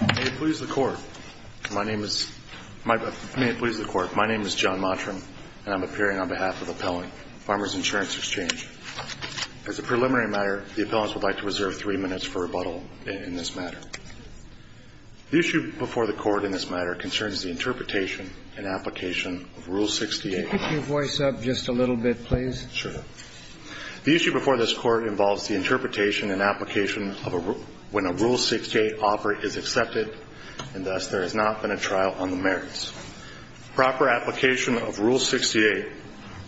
May it please the Court, my name is John Mottram and I'm appearing on behalf of the Appellant, Farmers Insurance Exchange. As a preliminary matter, the Appellants would like to reserve three minutes for rebuttal in this matter. The issue before the Court in this matter concerns the interpretation and application of Rule 68. Could you pick your voice up just a little bit, please? Sure. The issue before this Court involves the interpretation and application when a Rule 68 offer is accepted and thus there has not been a trial on the merits. Proper application of Rule 68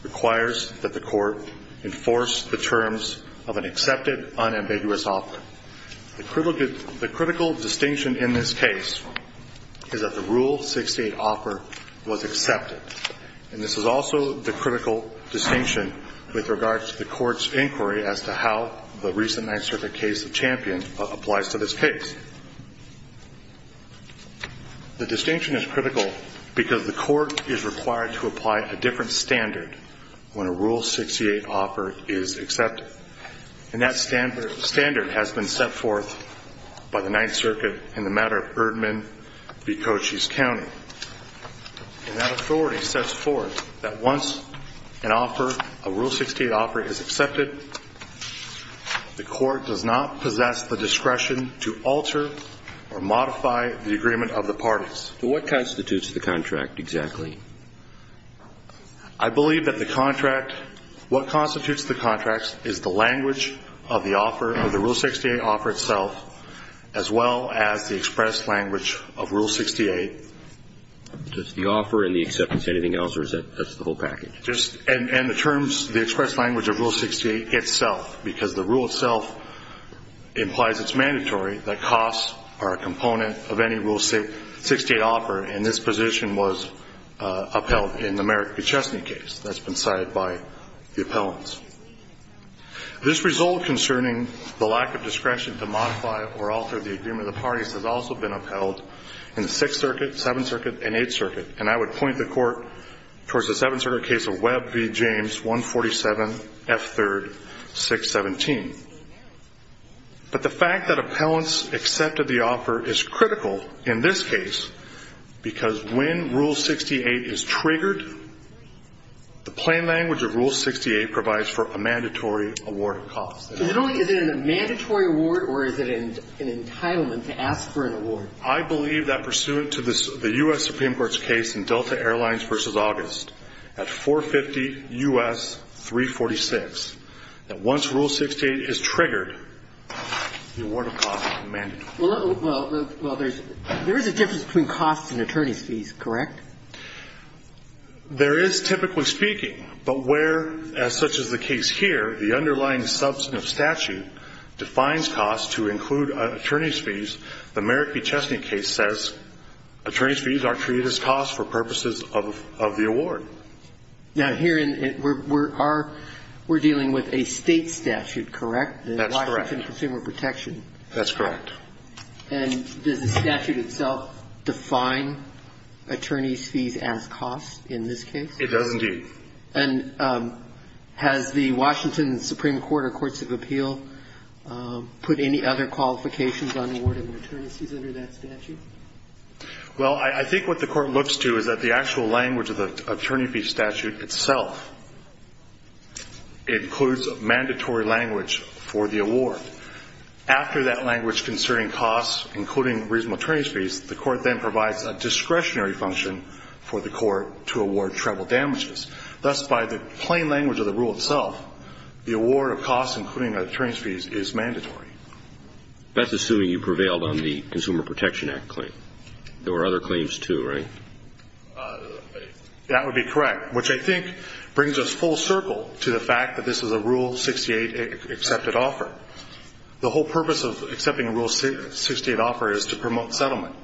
requires that the Court enforce the terms of an accepted unambiguous offer. The critical distinction in this case is that the Rule 68 offer was accepted. And this is also the critical distinction with regard to the Court's inquiry as to how the recent Ninth Circuit case of Champion applies to this case. The distinction is critical because the Court is required to apply a different standard when a Rule 68 offer is accepted. And that standard has been set forth by the Ninth Circuit in the matter of Erdman v. Cochise County. And that authority sets forth that once an offer, a Rule 68 offer is accepted, the Court does not possess the discretion to alter or modify the agreement of the parties. What constitutes the contract exactly? I believe that the contract, what constitutes the contract is the language of the offer, of the Rule 68 offer itself, as well as the express language of Rule 68. Just the offer and the acceptance, anything else, or is that just the whole package? Just, and the terms, the express language of Rule 68 itself, because the rule itself implies it's mandatory that costs are a component of any Rule 68 offer. And this position was upheld in the Merrick v. Chesney case that's been cited by the appellants. This result concerning the lack of discretion to modify or alter the agreement of the parties has also been upheld in the Sixth Circuit, Seventh Circuit, and Eighth Circuit. And I would point the Court towards the Seventh Circuit case of Webb v. James, 147 F. 3rd, 617. But the fact that appellants accepted the offer is critical in this case, because when Rule 68 is triggered, the plain language of Rule 68 provides for a mandatory award of costs. Not only is it a mandatory award, or is it an entitlement to ask for an award? I believe that pursuant to the U.S. Supreme Court's case in Delta Airlines v. August, at 450 U.S. 346, that once Rule 68 is triggered, the award of costs is mandatory. Well, there's a difference between costs and attorney's fees, correct? There is, typically speaking. But where, as such is the case here, the underlying substance of statute defines costs to include attorney's fees, the Merrick v. Chesney case says attorney's fees are treated as costs for purposes of the award. Now, here we're dealing with a State statute, correct? That's correct. The Washington Consumer Protection. That's correct. And does the statute itself define attorney's fees as costs in this case? It does, indeed. And has the Washington Supreme Court or courts of appeal put any other qualifications on the award of attorney's fees under that statute? Well, I think what the Court looks to is that the actual language of the attorney fee statute itself includes mandatory language for the award. After that language concerning costs, including reasonable attorney's fees, the Court then provides a discretionary function for the Court to award treble damages. Thus, by the plain language of the rule itself, the award of costs, including attorney's fees, is mandatory. That's assuming you prevailed on the Consumer Protection Act claim. There were other claims, too, right? That would be correct, which I think brings us full circle to the fact that this is a Rule 68 accepted offer. The whole purpose of accepting a Rule 68 offer is to promote settlement.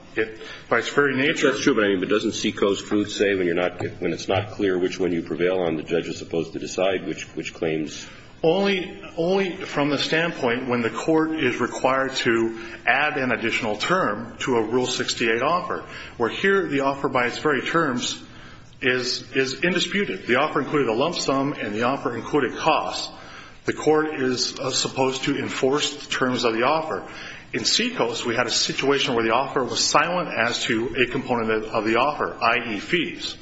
By its very nature – That's true, but doesn't SECO's proof say when it's not clear which one you prevail on, the judge is supposed to decide which claims? Only from the standpoint when the Court is required to add an additional term to a Rule 68 offer, where here the offer by its very terms is indisputed. The offer included a lump sum, and the offer included costs. The Court is supposed to enforce the terms of the offer. In SECO's, we had a situation where the offer was silent as to a component of the offer, i.e., fees.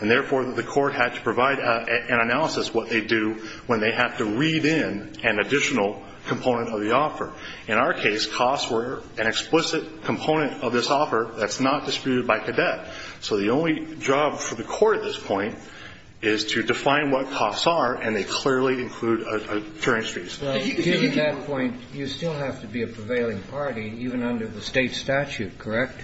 And therefore, the Court had to provide an analysis of what they do when they have to read in an additional component of the offer. In our case, costs were an explicit component of this offer that's not disputed by cadet. So the only job for the Court at this point is to define what costs are, and they clearly include insurance fees. Well, given that point, you still have to be a prevailing party even under the State statute, correct?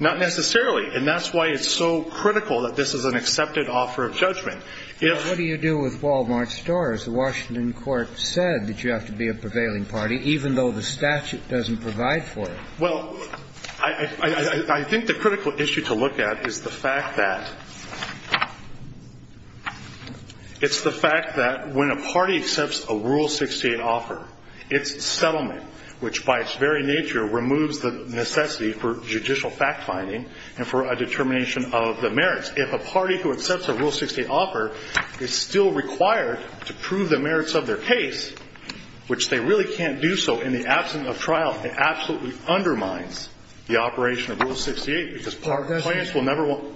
Not necessarily. And that's why it's so critical that this is an accepted offer of judgment. What do you do with Wal-Mart stores? The Washington Court said that you have to be a prevailing party, even though the statute doesn't provide for it. Well, I think the critical issue to look at is the fact that it's the fact that when a party accepts a Rule 68 offer, its settlement, which by its very nature removes the necessity for judicial fact-finding and for a determination of the merits. If a party who accepts a Rule 68 offer is still required to prove the merits of their case, which they really can't do so in the absence of trial, it absolutely undermines the operation of Rule 68, because clients will never want to.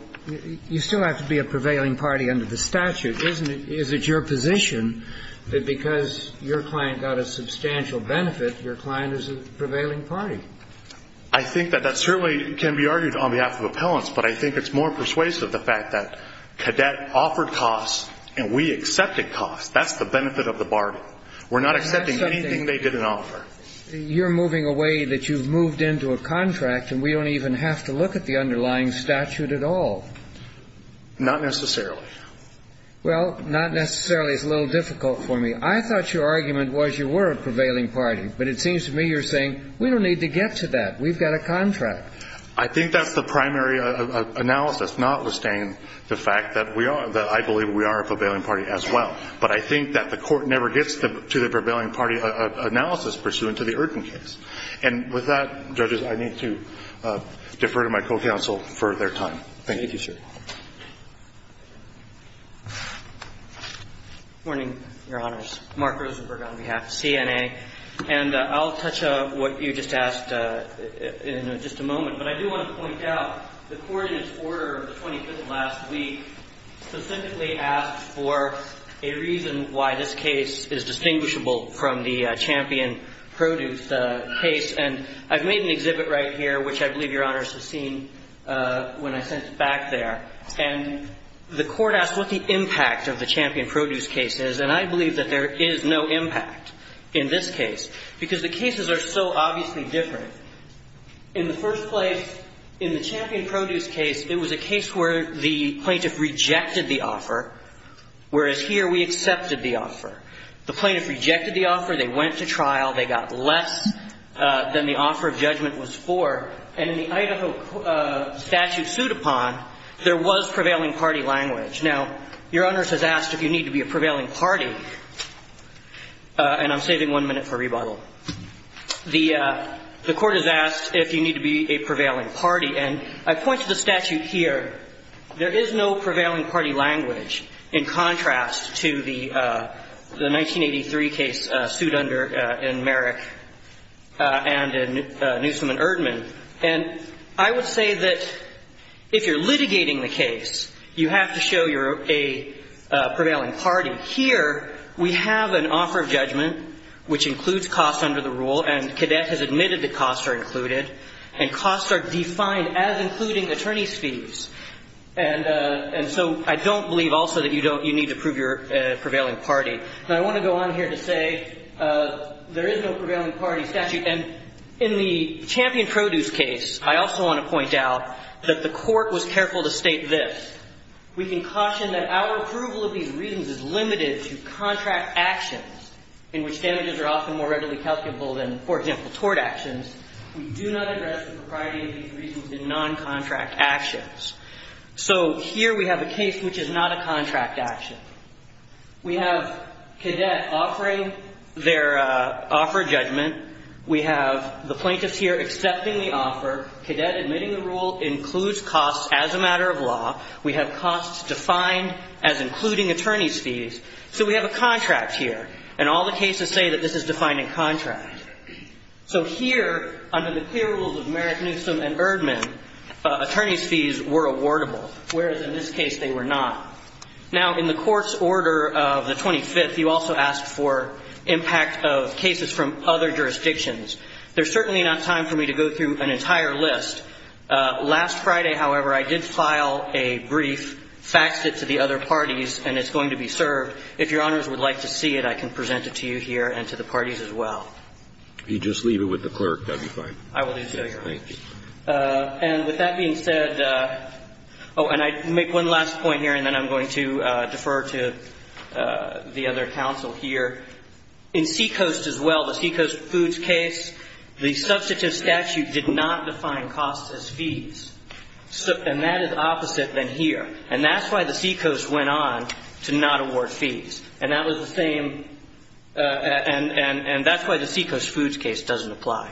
You still have to be a prevailing party under the statute, isn't it? Is it your position that because your client got a substantial benefit, your client is a prevailing party? I think that that certainly can be argued on behalf of appellants, but I think it's more persuasive, the fact that Cadet offered costs and we accepted costs. That's the benefit of the bargain. We're not accepting anything they didn't offer. You're moving away that you've moved into a contract and we don't even have to look at the underlying statute at all. Not necessarily. Well, not necessarily is a little difficult for me. I thought your argument was you were a prevailing party, but it seems to me you're saying we don't need to get to that. We've got a contract. I think that's the primary analysis, not withstanding the fact that we are, that I believe we are a prevailing party as well. But I think that the Court never gets to the prevailing party analysis pursuant to the urgent case. And with that, judges, I need to defer to my co-counsel for their time. Thank you. Thank you, sir. Good morning, Your Honors. Mark Rosenberg on behalf of CNA. And I'll touch on what you just asked in just a moment. But I do want to point out the Court in its order of the 25th last week specifically asked for a reason why this case is distinguishable from the Champion Produce case. And I've made an exhibit right here, which I believe Your Honors have seen, when I sent it back there. And the Court asked what the impact of the Champion Produce case is. And I believe that there is no impact in this case because the cases are so obviously different. In the first place, in the Champion Produce case, it was a case where the plaintiff rejected the offer, whereas here we accepted the offer. The plaintiff rejected the offer. They went to trial. They got less than the offer of judgment was for. And in the Idaho statute sued upon, there was prevailing party language. Now, Your Honors has asked if you need to be a prevailing party. And I'm saving one minute for rebuttal. The Court has asked if you need to be a prevailing party. And I point to the statute here. There is no prevailing party language in contrast to the 1983 case sued under in Merrick and in Newsom and Erdman. And I would say that if you're litigating the case, you have to show you're a prevailing party. Here, we have an offer of judgment, which includes costs under the rule, and Cadet has admitted that costs are included. And costs are defined as including attorney's fees. And so I don't believe also that you don't need to prove you're a prevailing party. And I want to go on here to say there is no prevailing party statute. And in the Champion Produce case, I also want to point out that the Court was careful to state this. We can caution that our approval of these reasons is limited to contract actions in which damages are often more readily calculable than, for example, tort actions. We do not address the propriety of these reasons in non-contract actions. So here we have a case which is not a contract action. We have Cadet offering their offer of judgment. We have the plaintiffs here accepting the offer. Cadet admitting the rule includes costs as a matter of law. We have costs defined as including attorney's fees. So we have a contract here, and all the cases say that this is defining contract. So here, under the clear rules of Merrick, Newsom, and Erdman, attorney's fees were awardable, whereas in this case they were not. Now, in the Court's order of the 25th, you also asked for impact of cases from other jurisdictions. There's certainly not time for me to go through an entire list. Last Friday, however, I did file a brief, faxed it to the other parties, and it's going to be served. If Your Honors would like to see it, I can present it to you here and to the parties as well. If you just leave it with the clerk, that would be fine. I will do so, Your Honor. Thank you. And with that being said, oh, and I make one last point here, and then I'm going to defer to the other counsel here. In Seacoast as well, the Seacoast Foods case, the substantive statute did not define costs as fees. And that is opposite than here. And that's why the Seacoast went on to not award fees. And that was the same, and that's why the Seacoast Foods case doesn't apply.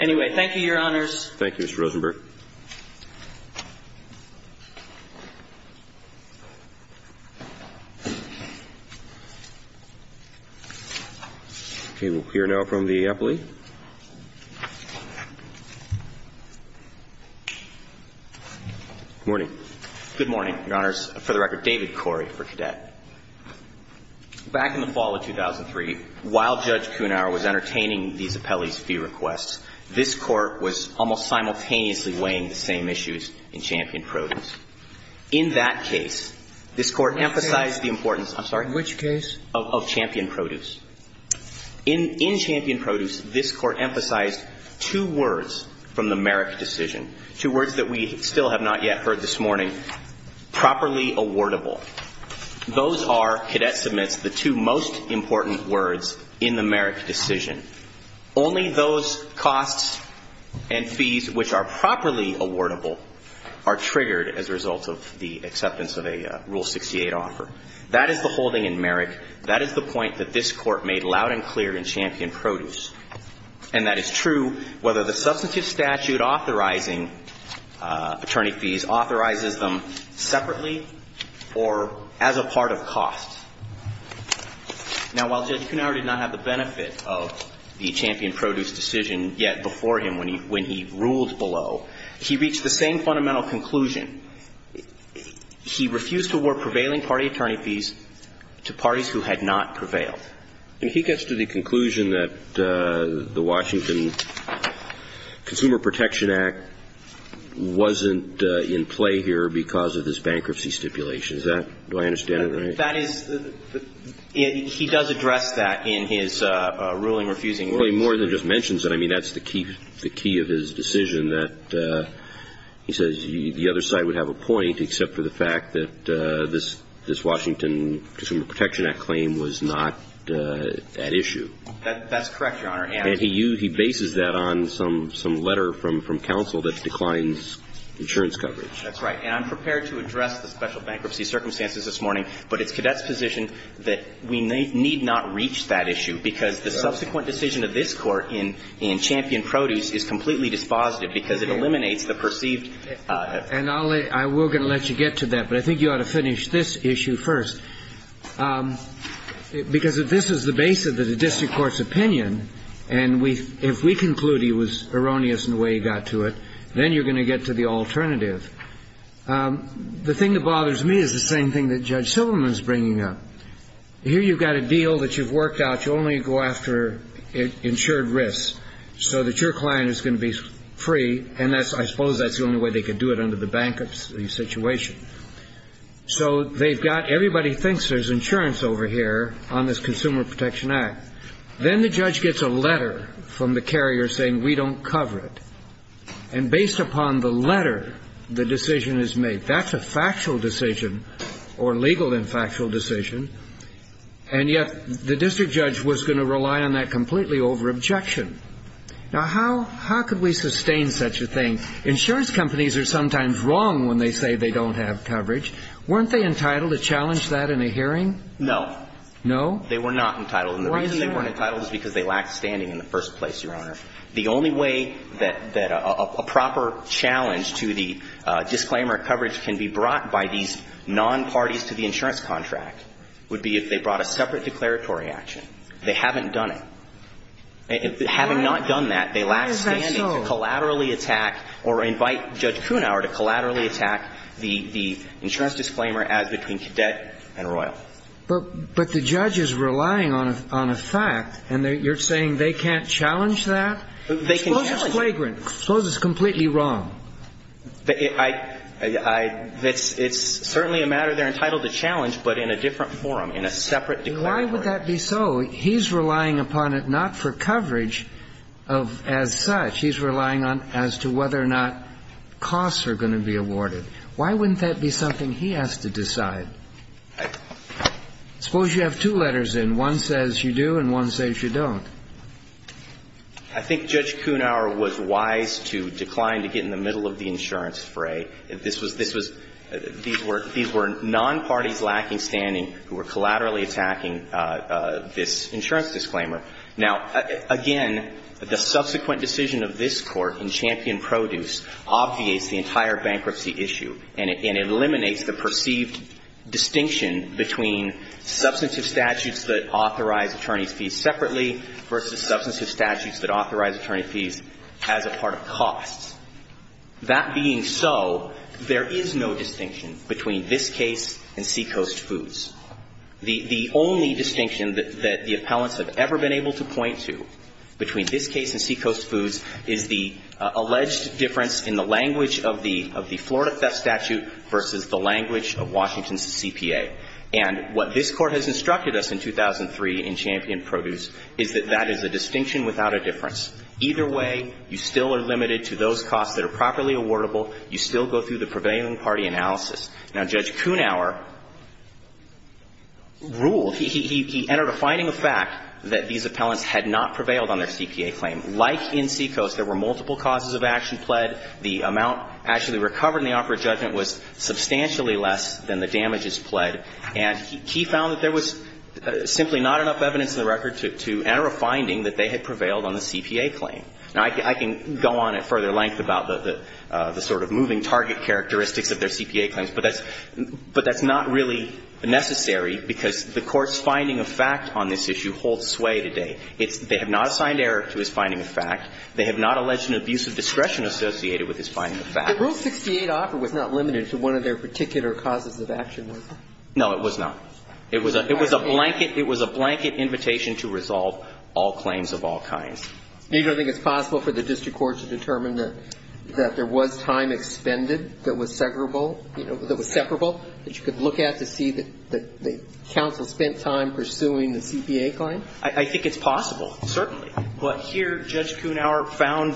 Anyway, thank you, Your Honors. Thank you, Mr. Rosenberg. Okay, we'll hear now from the appellee. Good morning. Good morning, Your Honors. For the record, David Corey for CADET. Back in the fall of 2003, while Judge Kunauer was entertaining these appellees' fee requests, this Court was almost simultaneously weighing the same issues in Champion Produce. In that case, this Court emphasized the importance of Champion Produce. In Champion Produce, this Court emphasized two words from the Merrick decision, two words that we still have not yet heard this morning. Properly awardable. Those are, CADET submits, the two most important words in the Merrick decision. Only those costs and fees which are properly awardable are triggered as a result of the acceptance of a Rule 68 offer. That is the holding in Merrick. That is the point that this Court made loud and clear in Champion Produce. And that is true whether the substantive statute authorizing attorney fees authorizes them separately or as a part of costs. Now, while Judge Kunauer did not have the benefit of the Champion Produce decision yet before him when he ruled below, he reached the same fundamental conclusion. He refused to award prevailing party attorney fees to parties who had not prevailed. And he gets to the conclusion that the Washington Consumer Protection Act wasn't in play here because of this bankruptcy stipulation. Is that, do I understand it right? That is, he does address that in his ruling refusing rules. Well, he more than just mentions it. I mean, that's the key of his decision that he says the other side would have a point, except for the fact that this Washington Consumer Protection Act claim was not at issue. That's correct, Your Honor. And he bases that on some letter from counsel that declines insurance coverage. That's right. And I'm prepared to address the special bankruptcy circumstances this morning, but it's Cadet's position that we need not reach that issue because the subsequent decision of this Court in Champion Produce is completely dispositive because it eliminates the perceived. And I'll let, we're going to let you get to that, but I think you ought to finish this issue first. Because if this is the base of the district court's opinion, and if we conclude he was erroneous in the way he got to it, then you're going to get to the alternative. The thing that bothers me is the same thing that Judge Silverman's bringing up. Here you've got a deal that you've worked out, you only go after insured risks, so that your client is going to be free, and I suppose that's the only way they could do it under the bankruptcy situation. So they've got, everybody thinks there's insurance over here on this Consumer Protection Act. Then the judge gets a letter from the carrier saying we don't cover it. And based upon the letter, the decision is made. That's a factual decision or legal and factual decision. And yet the district judge was going to rely on that completely over objection. Now, how could we sustain such a thing? Insurance companies are sometimes wrong when they say they don't have coverage. Weren't they entitled to challenge that in a hearing? No. No? They were not entitled. And the reason they weren't entitled is because they lacked standing in the first place, Your Honor. The only way that a proper challenge to the disclaimer coverage can be brought by these non-parties to the insurance contract would be if they brought a separate declaratory action. They haven't done it. Having not done that, they lack standing to collaterally attack or invite Judge Kuhnhauer to collaterally attack the insurance disclaimer as between Cadet and Royal. But the judge is relying on a fact, and you're saying they can't challenge that? They can challenge it. Suppose it's flagrant. Suppose it's completely wrong. It's certainly a matter they're entitled to challenge, but in a different forum, in a separate declaratory. Why would that be so? He's relying upon it not for coverage as such. He's relying on it as to whether or not costs are going to be awarded. Why wouldn't that be something he has to decide? Suppose you have two letters in. One says you do and one says you don't. I think Judge Kuhnhauer was wise to decline to get in the middle of the insurance fray. This was these were non-parties lacking standing who were collaterally attacking this insurance disclaimer. Now, again, the subsequent decision of this Court in Champion Produce obviates the entire bankruptcy issue and eliminates the perceived distinction between substantive statutes that authorize attorney's fees separately versus substantive statutes that authorize attorney's fees as a part of costs. That being so, there is no distinction between this case and Seacoast Foods. The only distinction that the appellants have ever been able to point to between this case and Seacoast Foods is the alleged difference in the language of the Florida CFS statute versus the language of Washington's CPA. And what this Court has instructed us in 2003 in Champion Produce is that that is a distinction without a difference. Either way, you still are limited to those costs that are properly awardable. You still go through the prevailing party analysis. Now, Judge Kuhnhauer ruled. He entered a finding of fact that these appellants had not prevailed on their CPA claim. Like in Seacoast, there were multiple causes of action pled. The amount actually recovered in the operative judgment was substantially less than the damages pled. And he found that there was simply not enough evidence in the record to enter a finding that they had prevailed on the CPA claim. Now, I can go on at further length about the sort of moving target characteristics of their CPA claims, but that's not really necessary because the Court's finding of fact on this issue holds sway today. They have not assigned error to his finding of fact. They have not alleged an abuse of discretion associated with his finding of fact. The Rule 68 offer was not limited to one of their particular causes of action, was it? No, it was not. It was a blanket invitation to resolve all claims of all kinds. You don't think it's possible for the district court to determine that there was time expended that was separable that you could look at to see that the counsel spent time pursuing the CPA claim? I think it's possible, certainly. But here, Judge Kuhnhauer found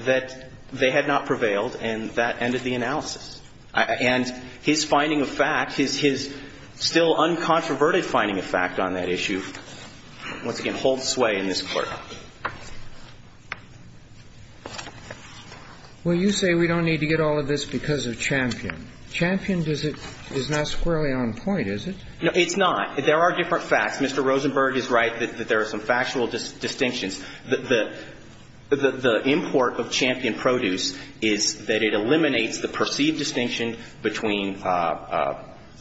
that they had not prevailed, and that ended the analysis. And his finding of fact, his still uncontroverted finding of fact on that issue, once again, holds sway in this Court. Well, you say we don't need to get all of this because of Champion. Champion is not squarely on point, is it? No, it's not. There are different facts. Mr. Rosenberg is right that there are some factual distinctions. The import of Champion Produce is that it eliminates the perceived distinction between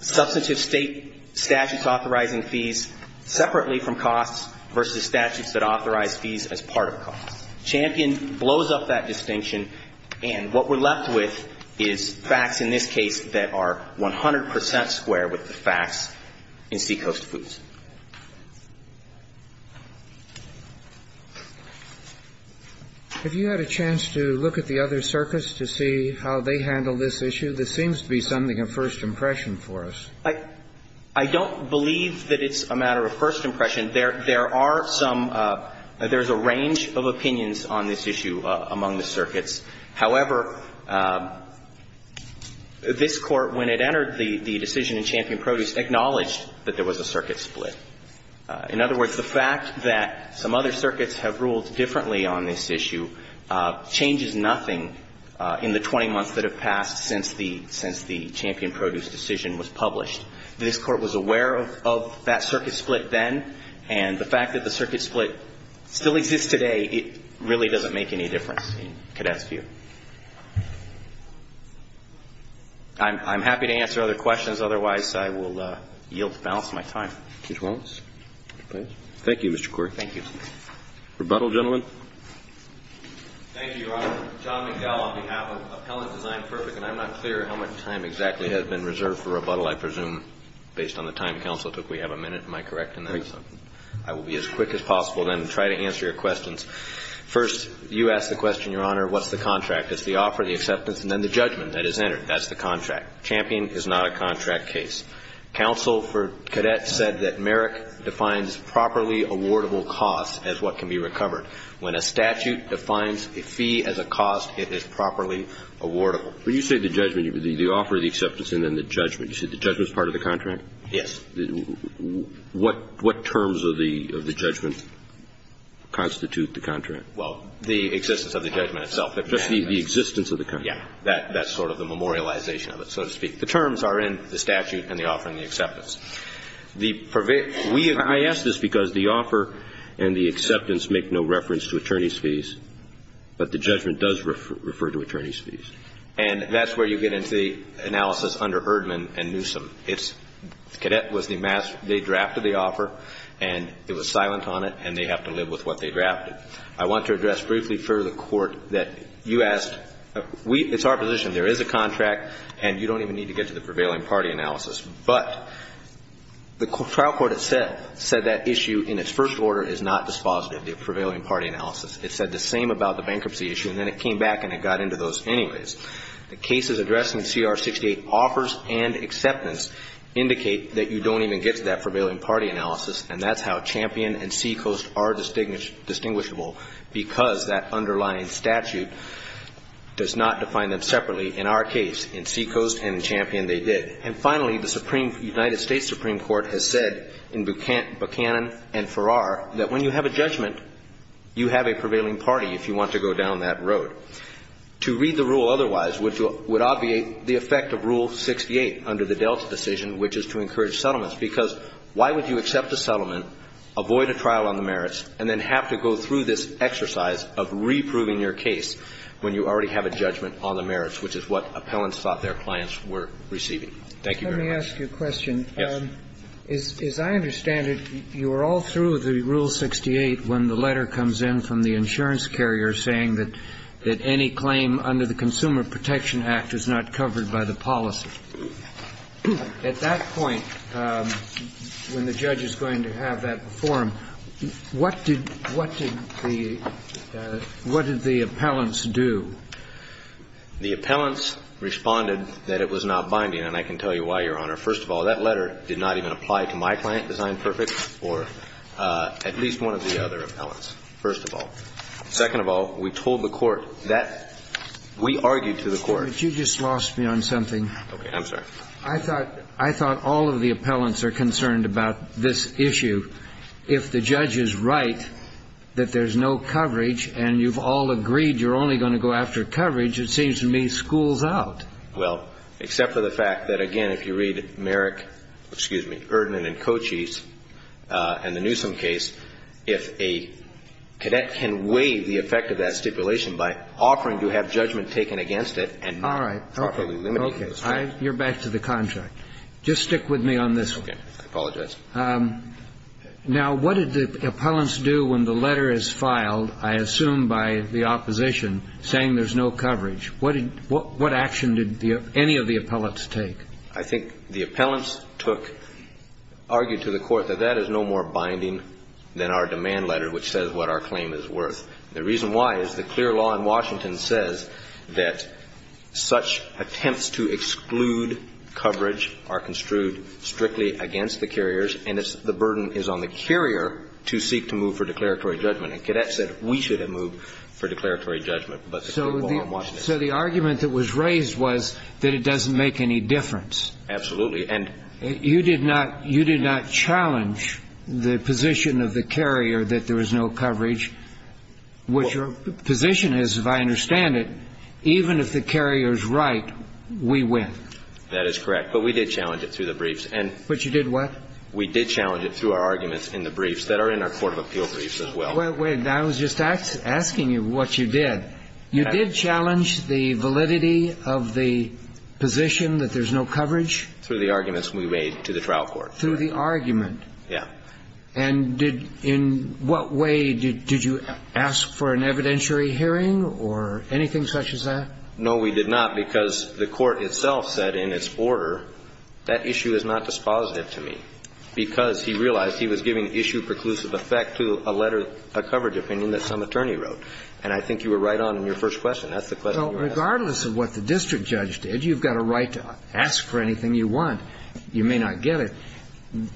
substantive state statutes authorizing fees separately from costs versus statutes that authorize fees as part of costs. Champion blows up that distinction, and what we're left with is facts in this case that are 100 percent square with the facts in Seacoast Foods. Have you had a chance to look at the other circuits to see how they handle this issue? This seems to be something of first impression for us. I don't believe that it's a matter of first impression. There are some – there's a range of opinions on this issue among the circuits. However, this Court, when it entered the decision in Champion Produce, acknowledged that there was a circuit split. In other words, the fact that some other circuits have ruled differently on this issue changes nothing in the 20 months that have passed since the Champion Produce decision was published. This Court was aware of that circuit split then, and the fact that the circuit split still exists today, it really doesn't make any difference in cadets' view. I'm happy to answer other questions. Otherwise, I will yield to balance my time. Mr. Wallace, please. Thank you, Mr. Court. Thank you. Rebuttal, gentlemen. Thank you, Your Honor. John McDowell on behalf of Appellant Design Perfect, and I'm not clear how much time exactly has been reserved for rebuttal. I presume based on the time counsel took, we have a minute. Am I correct in that? I will be as quick as possible then to try to answer your questions. First, you asked the question, Your Honor, what's the contract? It's the offer, the acceptance, and then the judgment that is entered. That's the contract. Champion is not a contract case. Counsel for cadets said that Merrick defines properly awardable costs as what can be recovered. When a statute defines a fee as a cost, it is properly awardable. When you say the judgment, the offer, the acceptance, and then the judgment, you said the judgment is part of the contract? Yes. What terms of the judgment constitute the contract? Well, the existence of the judgment itself. Just the existence of the contract. Yes. That's sort of the memorialization of it, so to speak. The terms are in the statute and the offer and the acceptance. I ask this because the offer and the acceptance make no reference to attorney's fees, but the judgment does refer to attorney's fees. And that's where you get into the analysis under Erdman and Newsom. The cadet was the master. They drafted the offer, and it was silent on it, and they have to live with what they drafted. I want to address briefly for the Court that you asked. It's our position. There is a contract, and you don't even need to get to the prevailing party analysis. But the trial court said that issue in its first order is not dispositive, the prevailing party analysis. It said the same about the bankruptcy issue, and then it came back and it got into those anyways. The cases addressed in CR 68 offers and acceptance indicate that you don't even get to that prevailing party analysis, and that's how Champion and Seacoast are distinguishable because that underlying statute does not define them separately. In our case, in Seacoast and in Champion, they did. And finally, the United States Supreme Court has said in Buchanan and Farrar that when you have a judgment, you have a prevailing party if you want to go down that road. To read the rule otherwise would obviate the effect of Rule 68 under the Delta decision, which is to encourage settlements, because why would you accept a settlement, avoid a trial on the merits, and then have to go through this exercise of reproving your case when you already have a judgment on the merits, which is what appellants thought their clients were receiving. Thank you very much. Let me ask you a question. Yes. As I understand it, you are all through the Rule 68 when the letter comes in from the insurance carrier saying that any claim under the Consumer Protection Act is not covered by the policy. At that point, when the judge is going to have that before him, what did the appellants do? The appellants responded that it was not binding, and I can tell you why, Your Honor. First of all, that letter did not even apply to my client, Design Perfect, or at least one of the other appellants, first of all. Second of all, we told the court that we argued to the court. But you just lost me on something. Okay. I'm sorry. I thought all of the appellants are concerned about this issue. If the judge is right that there's no coverage and you've all agreed you're only going to go after coverage, it seems to me it schools out. Well, except for the fact that, again, if you read Merrick, excuse me, Erdmann and Cochise and the Newsom case, if a cadet can weigh the effect of that stipulation by offering to have judgment taken against it and not properly limiting it. All right. Okay. You're back to the contract. Just stick with me on this one. Okay. I apologize. Now, what did the appellants do when the letter is filed, I assume by the opposition, saying there's no coverage? What action did any of the appellants take? I think the appellants took or argued to the court that that is no more binding than our demand letter, which says what our claim is worth. The reason why is the clear law in Washington says that such attempts to exclude coverage are construed strictly against the carriers, and the burden is on the carrier to seek to move for declaratory judgment. And cadets said we should have moved for declaratory judgment, but the clear law in Washington So the argument that was raised was that it doesn't make any difference. Absolutely. And you did not challenge the position of the carrier that there was no coverage, which your position is, if I understand it, even if the carrier is right, we win. That is correct. But we did challenge it through the briefs. But you did what? We did challenge it through our arguments in the briefs that are in our court of appeal briefs as well. Wait. I was just asking you what you did. You did challenge the validity of the position that there's no coverage? Through the arguments we made to the trial court. Through the argument? Yeah. And did you ask for an evidentiary hearing or anything such as that? No, we did not, because the court itself said in its order that issue is not dispositive to me, because he realized he was giving issue preclusive effect to a letter, a coverage opinion that some attorney wrote. And I think you were right on in your first question. That's the question you asked. Regardless of what the district judge did, you've got a right to ask for anything you want. You may not get it.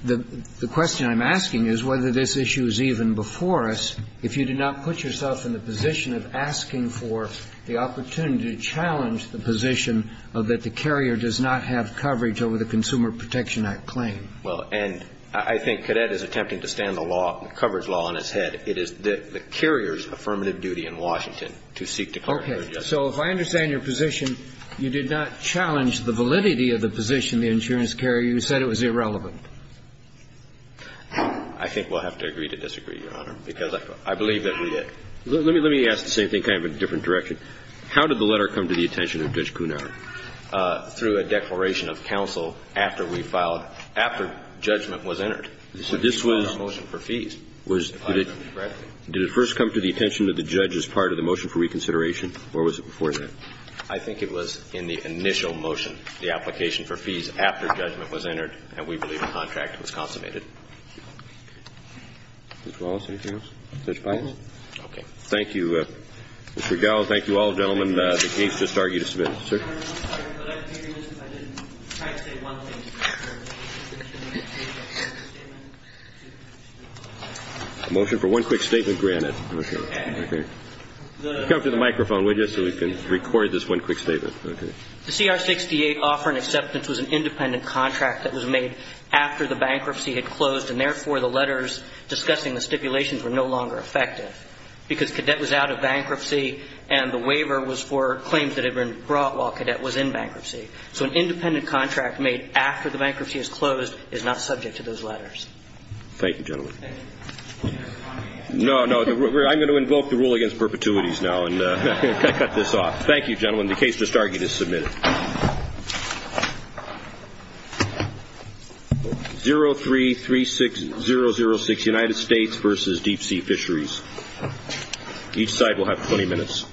The question I'm asking is whether this issue is even before us if you did not put yourself in the position of asking for the opportunity to challenge the position that the carrier does not have coverage over the Consumer Protection Act claim. Well, and I think Cadet is attempting to stand the law, the coverage law on its head. And it is the carrier's affirmative duty in Washington to seek to clarify. Okay. So if I understand your position, you did not challenge the validity of the position the insurance carrier. You said it was irrelevant. I think we'll have to agree to disagree, Your Honor, because I believe that we did. Let me ask the same thing, kind of a different direction. How did the letter come to the attention of Judge Cunard through a declaration of counsel after we filed, after judgment was entered? So this was the motion for fees. Did it first come to the attention of the judge as part of the motion for reconsideration or was it before that? I think it was in the initial motion, the application for fees after judgment was entered, and we believe the contract was consummated. Mr. Wallace, anything else? Judge Pines? Okay. Thank you. Mr. Gallo, thank you all, gentlemen. The case just argued us a bit. Sir? Motion for one quick statement granted. Okay. Come to the microphone, would you, so we can record this one quick statement. Okay. The CR-68 offer and acceptance was an independent contract that was made after the bankruptcy had closed and, therefore, the letters discussing the stipulations were no longer effective because Cadet was out of bankruptcy and the waiver was for claims that had been brought while Cadet was out of bankruptcy. Cadet was in bankruptcy. So an independent contract made after the bankruptcy has closed is not subject to those letters. Thank you, gentlemen. No, no, I'm going to invoke the rule against perpetuities now and cut this off. Thank you, gentlemen. The case just argued is submitted. 03-36006, United States v. Deep Sea Fisheries. Each side will have 20 minutes.